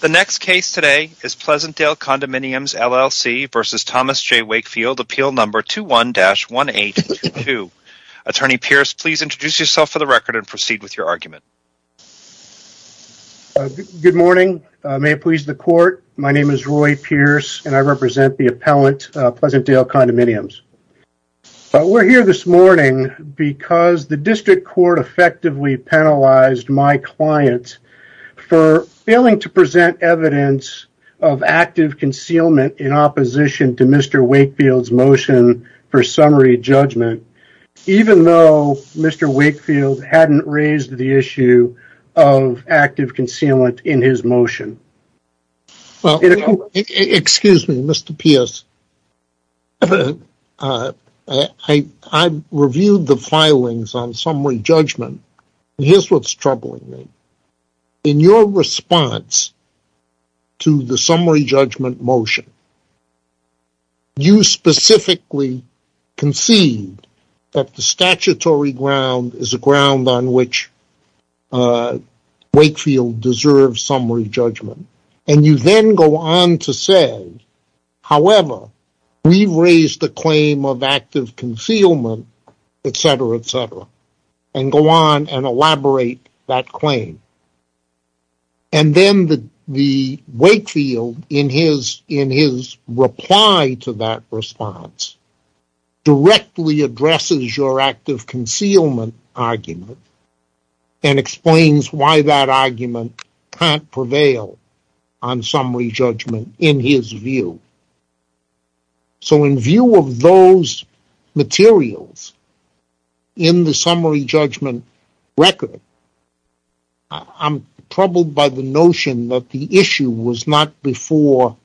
The next case today is Pleasantdale Condominiums, LLC v. Thomas J. Wakefield, appeal number 21-1822. Attorney Pierce, please introduce yourself for the record and proceed with your argument. Good morning. May it please the court, my name is Roy Pierce and I represent the appellant, Pleasantdale Condominiums. We're here this morning because the district court effectively penalized my client for failing to present evidence of active concealment in opposition to Mr. Wakefield's motion for summary judgment, even though Mr. Wakefield hadn't raised the issue of active concealment in his motion. Excuse me, Mr. Pierce. I reviewed the filings on summary judgment, and here's what's troubling me. In your response to the summary judgment motion, you specifically conceived that the statutory ground is a ground on which Wakefield deserves summary judgment, and you then go on to say, however, we've raised the claim of active concealment, etc., etc., and go on and elaborate that claim. And then Wakefield, in his reply to that response, directly addresses your active concealment argument and explains why that argument can't prevail on summary judgment in his view. So in view of those materials in the summary judgment record, I'm troubled by the notion that the issue was not before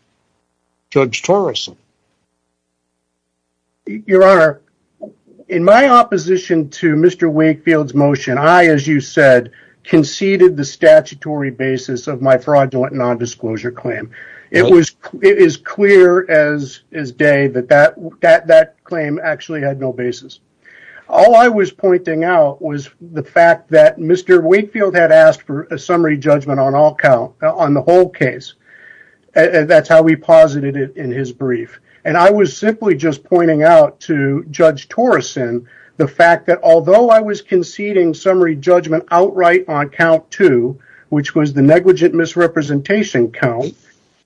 Judge Torreson. Your Honor, in my opposition to Mr. Wakefield's motion, I, as you said, conceded the statutory basis of my fraudulent non-disclosure claim. It is clear as day that that claim actually had no basis. All I was pointing out was the fact that Mr. Wakefield had asked for a summary judgment on the whole case. That's how he posited it in his brief. And I was simply just pointing out to Judge Torreson the fact that although I was conceding summary judgment outright on count two, which was the negligent misrepresentation count,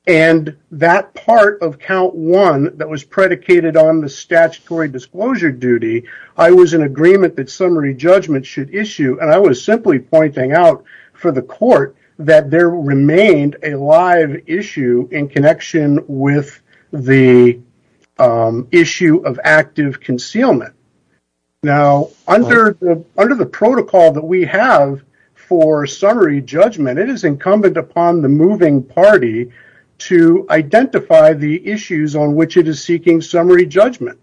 and that part of count one that was predicated on the statutory disclosure duty, I was in agreement that summary judgment should issue. And I was simply pointing out for the court that there remained a live issue in connection with the is incumbent upon the moving party to identify the issues on which it is seeking summary judgment.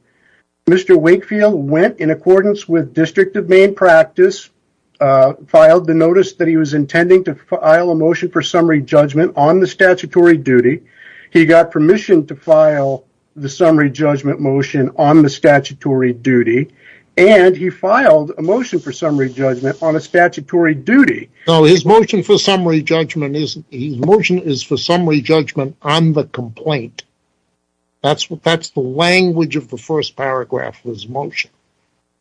Mr. Wakefield went in accordance with district of Maine practice, filed the notice that he was intending to file a motion for summary judgment on the statutory duty. He got permission to file the summary judgment motion on the statutory duty, and he filed a motion for summary judgment on a statutory duty. No, his motion for summary judgment is, his motion is for summary judgment on the complaint. That's what, that's the language of the first paragraph of his motion.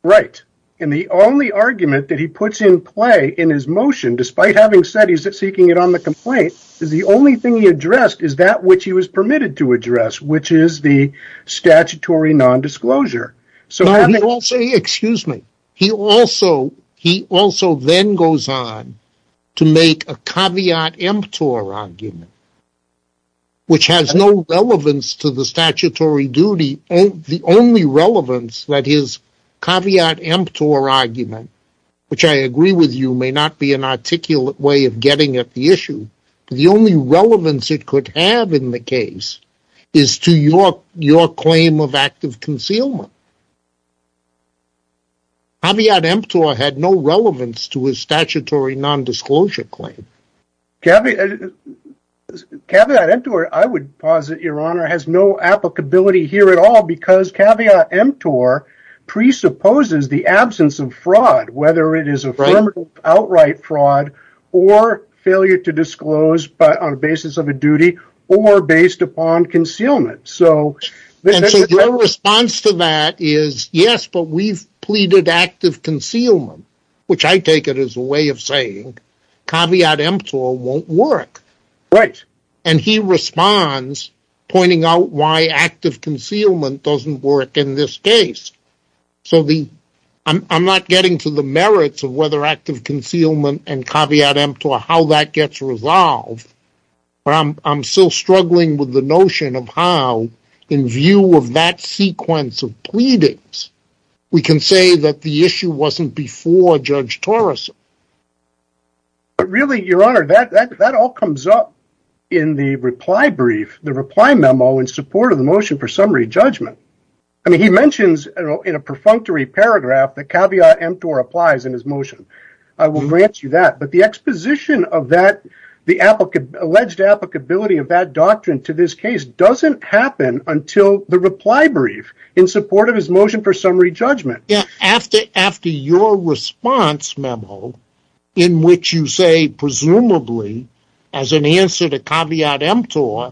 Right. And the only argument that he puts in play in his motion, despite having said he's seeking it on the complaint, is the only thing he addressed is that which he was permitted to then goes on to make a caveat emptor argument, which has no relevance to the statutory duty. The only relevance that his caveat emptor argument, which I agree with you may not be an articulate way of getting at the issue, the only relevance it could have in the case is to your claim of concealment. Caveat emptor had no relevance to his statutory non-disclosure claim. Caveat emptor, I would posit your honor, has no applicability here at all, because caveat emptor presupposes the absence of fraud, whether it is affirmative outright fraud or failure to that is, yes, but we've pleaded active concealment, which I take it as a way of saying caveat emptor won't work. Right. And he responds, pointing out why active concealment doesn't work in this case. So the, I'm not getting to the merits of whether active concealment and caveat emptor, how that gets resolved, but I'm still struggling with the notion of how, in view of that sequence of pleadings, we can say that the issue wasn't before Judge Torreson. But really your honor, that all comes up in the reply brief, the reply memo in support of the motion for summary judgment. I mean, he mentions in a perfunctory paragraph, the caveat emptor applies in his motion. I will grant you that, but the exposition of that, the alleged applicability of that doctrine to this case doesn't happen until the reply brief in support of his motion for summary judgment. Yeah. After, after your response memo in which you say, presumably as an answer to caveat emptor,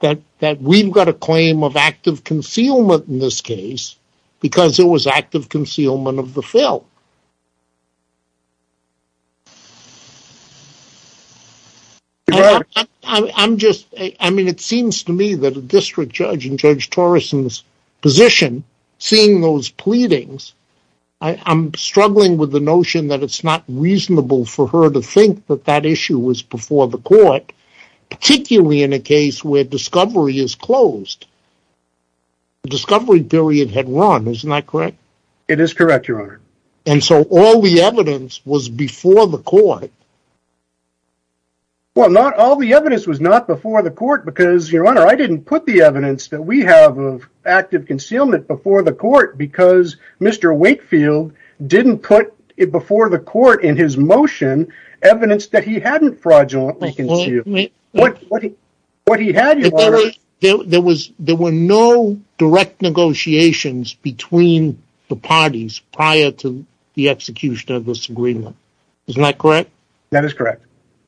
that, that we've got a claim of active concealment in this case, because it was active concealment of the fill. I'm just, I mean, it seems to me that a district judge in Judge Torreson's position, seeing those pleadings, I'm struggling with the notion that it's not reasonable for her to think that that issue was before the court, particularly in a case where discovery is closed. Discovery period had run, isn't that correct? It is correct, your honor. And so all the evidence was before the court. Well, not all the evidence was not before the court because your honor, I didn't put the evidence that we have of active concealment before the court because Mr. Wakefield didn't put it before the court in his motion, evidence that he hadn't fraudulently concealed. What he had, your honor. There was, there were no direct negotiations between the parties prior to the execution of this agreement. Isn't that correct? That is correct.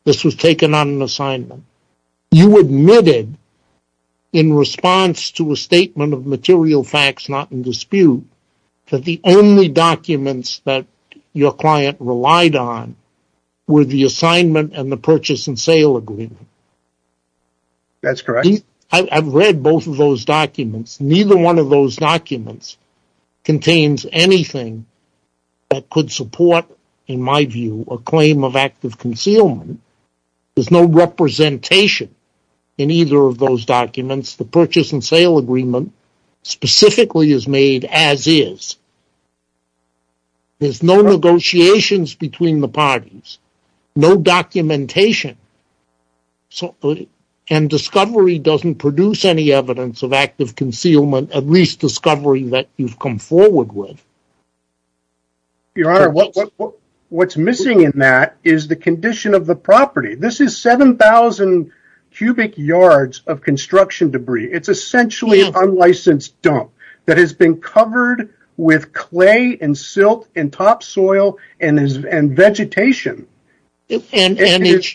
This was taken on an assignment. You admitted in response to a statement of material facts, not in dispute, that the only documents that your client relied on were the assignment and the purchase and sale agreement. That's correct. I've read both of those documents. Neither one of those documents contains anything that could support, in my view, a claim of active concealment. There's no representation in either of those documents. The purchase and sale agreement specifically is made as is. There's no negotiations between the parties, no documentation. And discovery doesn't produce any evidence of active concealment, at least discovery that you've come forward with. Your honor, what's missing in that is the condition of the property. This is 7,000 cubic yards of construction debris. It's essentially an unlicensed dump that has been covered with clay and silt and topsoil and vegetation. He buried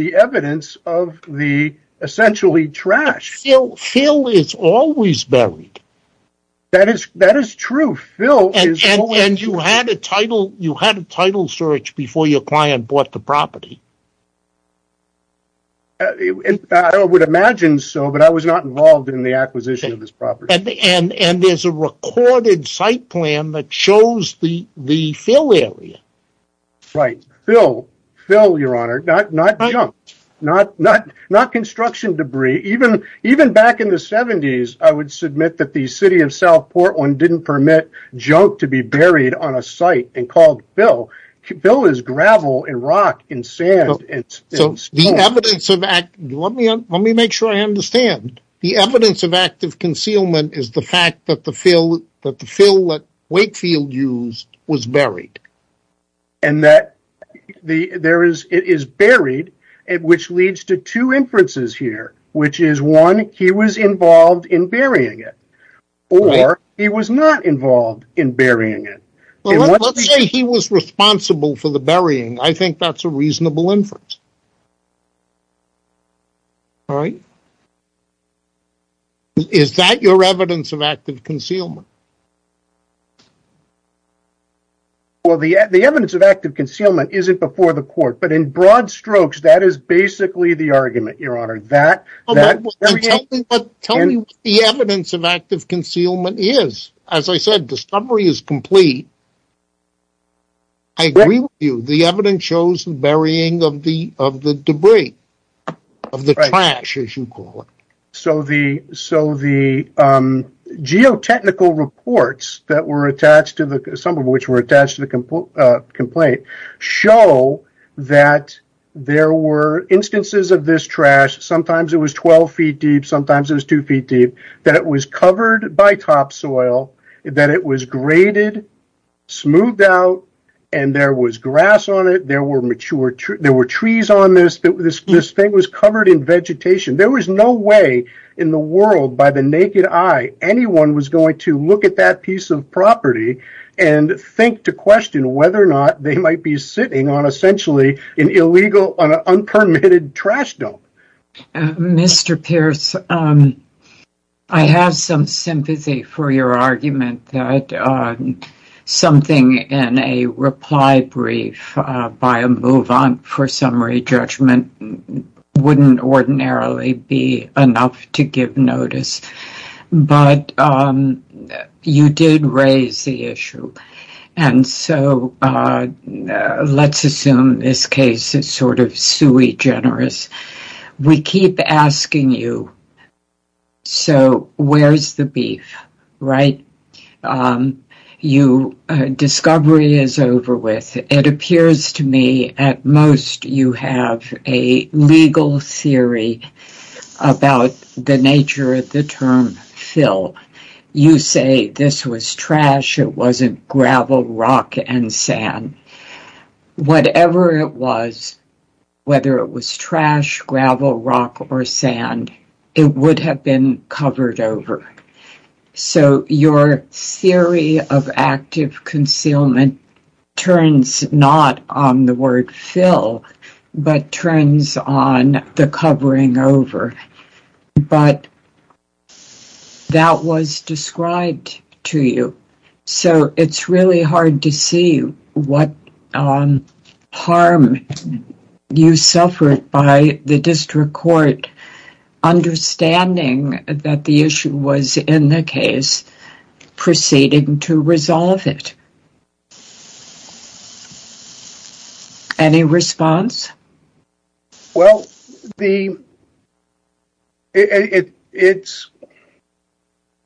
the evidence of the essentially trash. Phil is always buried. That is true. You had a title search before your client bought the property. I would imagine so, but I was not involved in the acquisition of this property. And there's a recorded site plan that shows the fill area. Right. Phil, your honor, not junk, not construction debris. Even back in the 70s, I would submit that the city of South Portland didn't permit junk to be buried on a site and Phil is gravel and rock and sand and stone. Let me make sure I understand. The evidence of active concealment is the fact that the fill that Wakefield used was buried. And that it is buried, which leads to two inferences here, which is one, he was involved in burying it, or he was not involved in burying it. Well, let's say he was responsible for the burying. I think that's a reasonable inference. All right. Is that your evidence of active concealment? Well, the evidence of active concealment isn't before the court, but in broad strokes, that is basically the argument, your honor. Tell me what the evidence of active concealment is. As I said, discovery is complete. I agree with you. The evidence shows the burying of the debris, of the trash, as you call it. So the geotechnical reports that were attached to the, some of which were attached to the instances of this trash, sometimes it was 12 feet deep, sometimes it was two feet deep, that it was covered by topsoil, that it was graded, smoothed out, and there was grass on it, there were trees on this, this thing was covered in vegetation. There was no way in the world, by the naked eye, anyone was going to look at that piece of trash dump. Mr. Pierce, I have some sympathy for your argument that something in a reply brief, by a move on for summary judgment, wouldn't ordinarily be enough to give notice. But you did raise the issue, and so let's assume this case is sort of sui generis. We keep asking you, so where's the beef, right? Discovery is over with. It appears to me, at most, you have a legal theory about the nature of the term fill. You say this was trash, it wasn't gravel, rock, and sand. Whatever it was, whether it was trash, gravel, rock, or sand, it would have been covered over. So your theory of active concealment turns not on the word fill, but turns on the covering over. But that was described to you, so it's really hard to see what harm you suffered by the district court understanding that the issue was in the case, proceeding to resolve it. Any response? Well,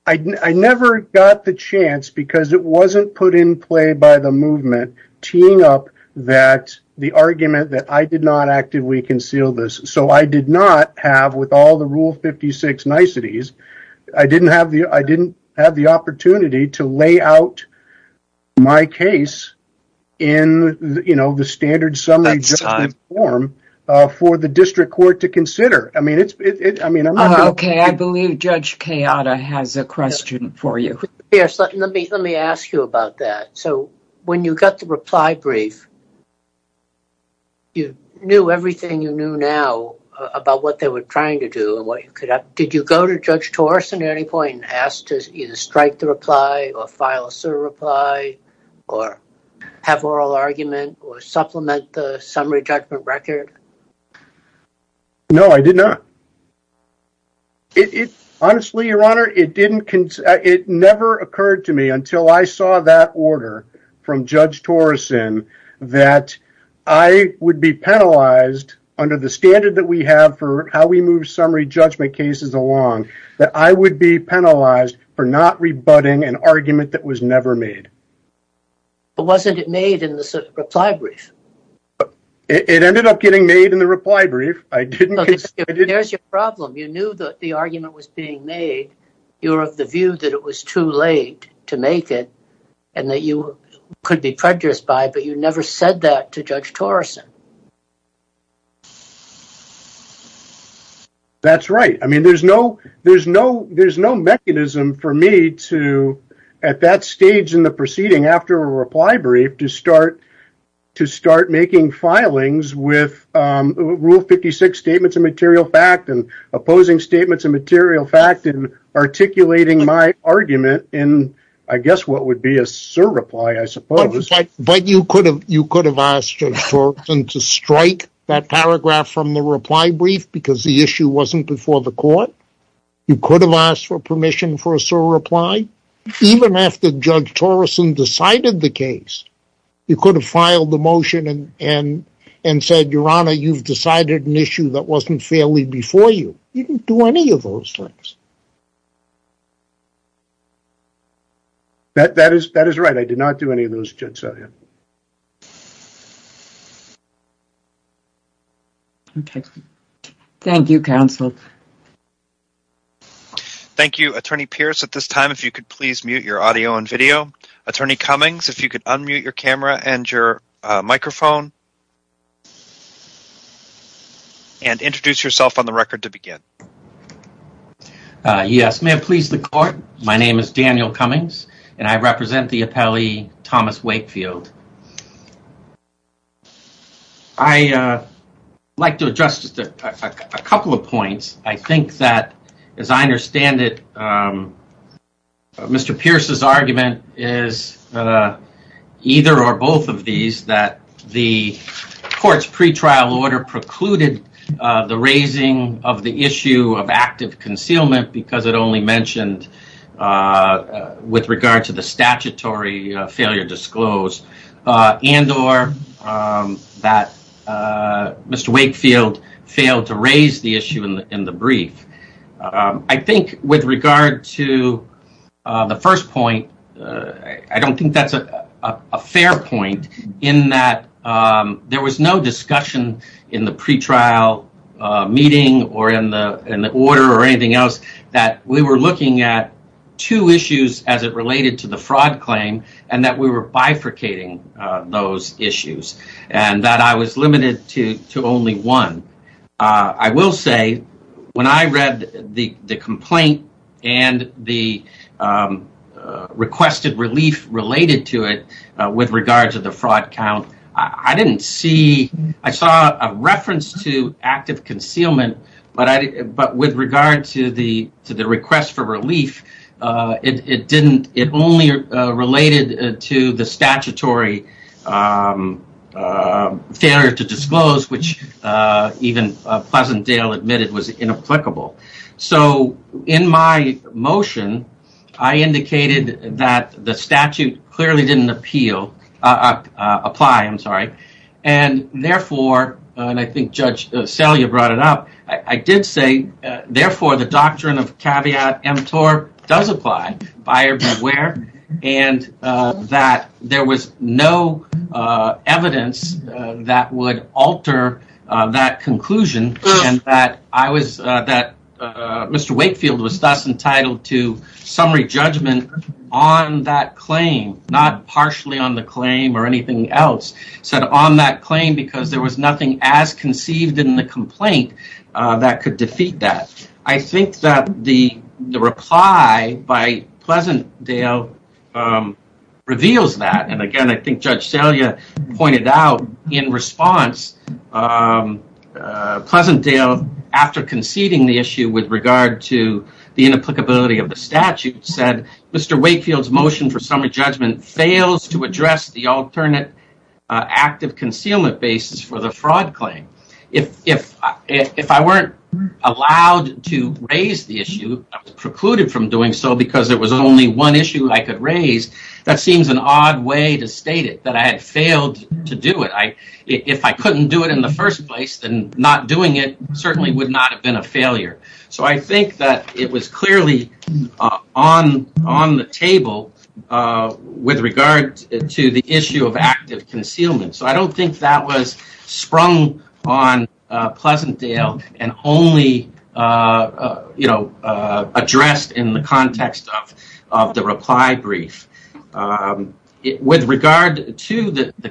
I never got the chance, because it wasn't put in by the movement, teeing up the argument that I did not actively conceal this. So I did not have, with all the Rule 56 niceties, I didn't have the opportunity to lay out my case in the standard summary form for the district court to consider. Okay, I believe Judge Kayada has a question for you. When you got the reply brief, you knew everything you knew now about what they were trying to do. Did you go to Judge Torson at any point and ask to either strike the reply, or file a certain reply, or have oral argument, or supplement the summary judgment record? No, I did not. Honestly, Your Honor, it never occurred to me, until I saw that order from Judge Torson, that I would be penalized under the standard that we have for how we move summary judgment cases along, that I would be penalized for not rebutting an argument that was never made. But wasn't it made in the reply brief? It ended up getting made in the reply brief. There's your problem. You knew that the argument was being made. You were of the view that it was too late to make it, and that you could be prejudiced by, but you never said that to Judge Torson. That's right. I mean, there's no mechanism for me to, at that stage in the proceeding after a reply brief, to start making filings with Rule 56 statements of material fact, and opposing statements of material fact, and articulating my argument in, I guess, what would be a surreply, I suppose. But you could have asked Judge Torson to strike that paragraph from the reply brief, because the issue wasn't before the court. You could have asked for permission for a surreply, even after Judge Torson decided the case. You could have filed the motion and said, Your Honor, you've decided an issue that wasn't fairly before you. You didn't do any of those things. That is right. I did not do any of those, Judge Sawyer. Okay. Thank you, counsel. Thank you, Attorney Pierce. At this time, if you could please mute your audio and video. Attorney Cummings, if you could unmute your camera and your microphone, and introduce yourself on the record to begin. Yes. May it please the court, my name is Daniel Cummings, and I represent the appellee, Thomas Wakefield. I'd like to address just a couple of points. I think that, as I understand it, Mr. Pierce's argument is either or both of these, that the court's pretrial order precluded the raising of the issue of active concealment, because it only mentioned with regard to the statutory failure disclosed, and or that Mr. Wakefield failed to raise the issue. The first point, I don't think that's a fair point, in that there was no discussion in the pretrial meeting, or in the order, or anything else, that we were looking at two issues as it related to the fraud claim, and that we were bifurcating those issues, and that I was not looking at the requested relief related to it, with regards to the fraud count. I didn't see, I saw a reference to active concealment, but with regard to the request for relief, it only related to the statutory failure to disclose, which even Pleasantdale admitted was inapplicable. In my motion, I indicated that the statute clearly didn't apply, and therefore, and I think Judge Selye brought it up, I did say, therefore, the doctrine of caveat emptor does apply, buyer beware, and that there was no evidence that would alter that conclusion, and that I was, that Mr. Wakefield was thus entitled to summary judgment on that claim, not partially on the claim, or anything else, said on that claim, because there was nothing as conceived in the complaint that could defeat that. I think that the reply by Pleasantdale reveals that, and again, I think Judge Selye pointed out in response, Pleasantdale, after conceding the issue with regard to the inapplicability of the statute, said Mr. Wakefield's motion for summary judgment fails to address the alternate active concealment basis for the fraud claim. If I weren't allowed to raise the issue, I was precluded from doing so, because there was only one issue I could raise, that seems an odd way to state it, that I had failed to do it. If I couldn't do it in the first place, then not doing it certainly would not have been a failure, so I think that it was clearly on the table with regard to the issue of active concealment. With regard to the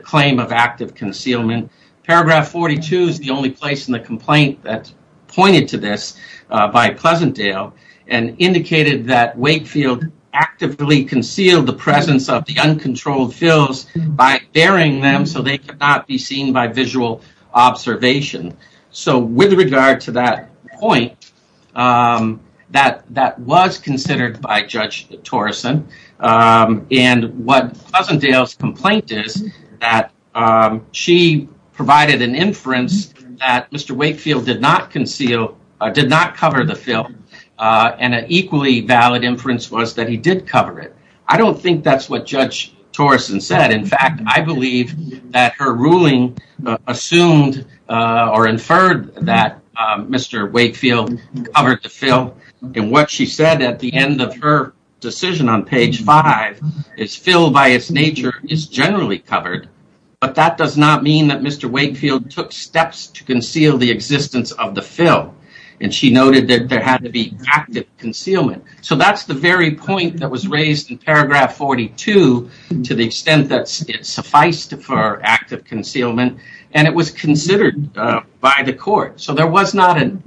claim of active concealment, paragraph 42 is the only place in the complaint that pointed to this by Pleasantdale, and indicated that Wakefield actively concealed the presence of the uncontrolled fills by burying them so they could not be seen by visual observation. So with regard to that point, that was considered by Judge Torrison, and what Pleasantdale's complaint is, that she provided an inference that Mr. Wakefield did not conceal, did not cover the fill, and an equally valid inference was that he did cover it. I don't think that's what Judge Torrison said. In fact, I believe that her ruling assumed or inferred that Mr. Wakefield covered the fill, and what she said at the end of her decision on page five, is fill by its nature is generally covered, but that does not mean that Mr. Wakefield took steps to conceal the existence of the fill, and she noted that there had to be active concealment. So that's the very point that was raised in paragraph 42, to the extent that it sufficed for active concealment, and it was considered by the court. So there was not an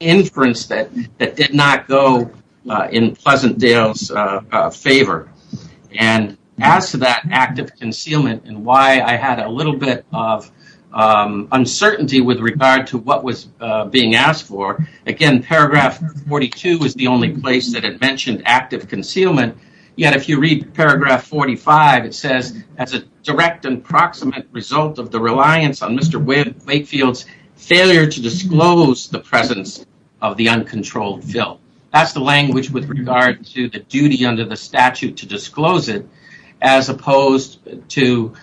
inference that did not go in Pleasantdale's favor, and as to that active concealment and why I had a little bit of mentioned active concealment, yet if you read paragraph 45, it says as a direct and proximate result of the reliance on Mr. Wakefield's failure to disclose the presence of the uncontrolled fill. That's the language with regard to the duty under the statute to disclose it, as opposed to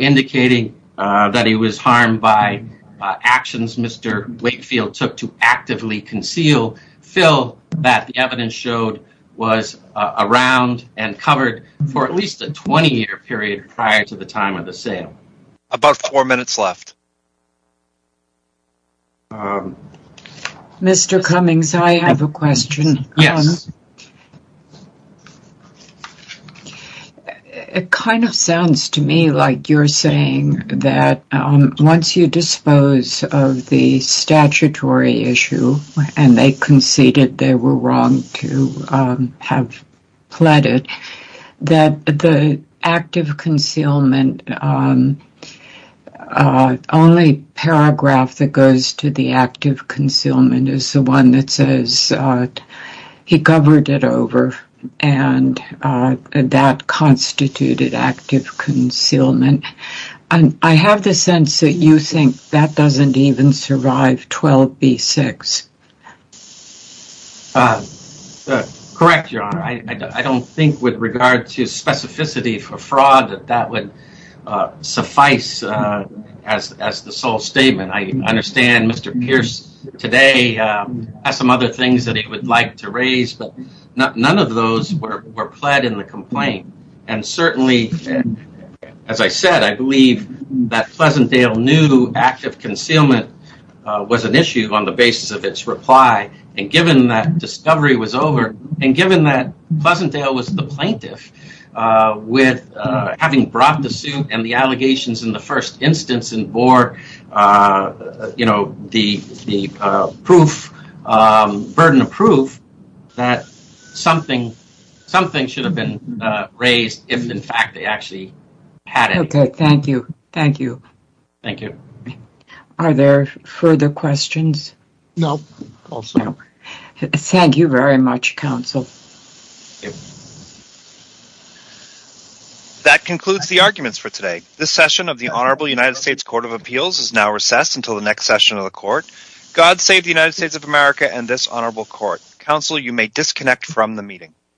indicating that he was harmed by actions Mr. Wakefield took to actively conceal fill that the evidence showed was around and covered for at least a 20-year period prior to the time of the sale. About four minutes left. Mr. Cummings, I have a question. Yes. It kind of sounds to me like you're saying that once you dispose of the statutory issue, and they conceded they were wrong to have pled it, that the active concealment, only paragraph that goes to the active concealment is the one that says he covered it over, and that constituted active concealment. And I have the sense that you think that doesn't even survive 12B6. Correct, Your Honor. I don't think with regard to specificity for fraud that that would suffice as the sole statement. I understand Mr. Pierce today has some other things that he would like to raise, but none of those were pled in the complaint. And certainly, as I said, I believe that Pleasantdale knew active concealment was an issue on the basis of its reply, and given that discovery was over, and given that Pleasantdale was the plaintiff, with having brought the suit and the allegations in the first instance and bore the burden of proof that something should have been raised if, in fact, they actually had it. Okay. Thank you. Thank you. Are there further questions? No. Thank you very much, counsel. That concludes the arguments for today. This session of the Honorable United States Court of Appeals is now recessed until the next session of the court. God save the United States. Thank you, counsel. You may disconnect from the meeting.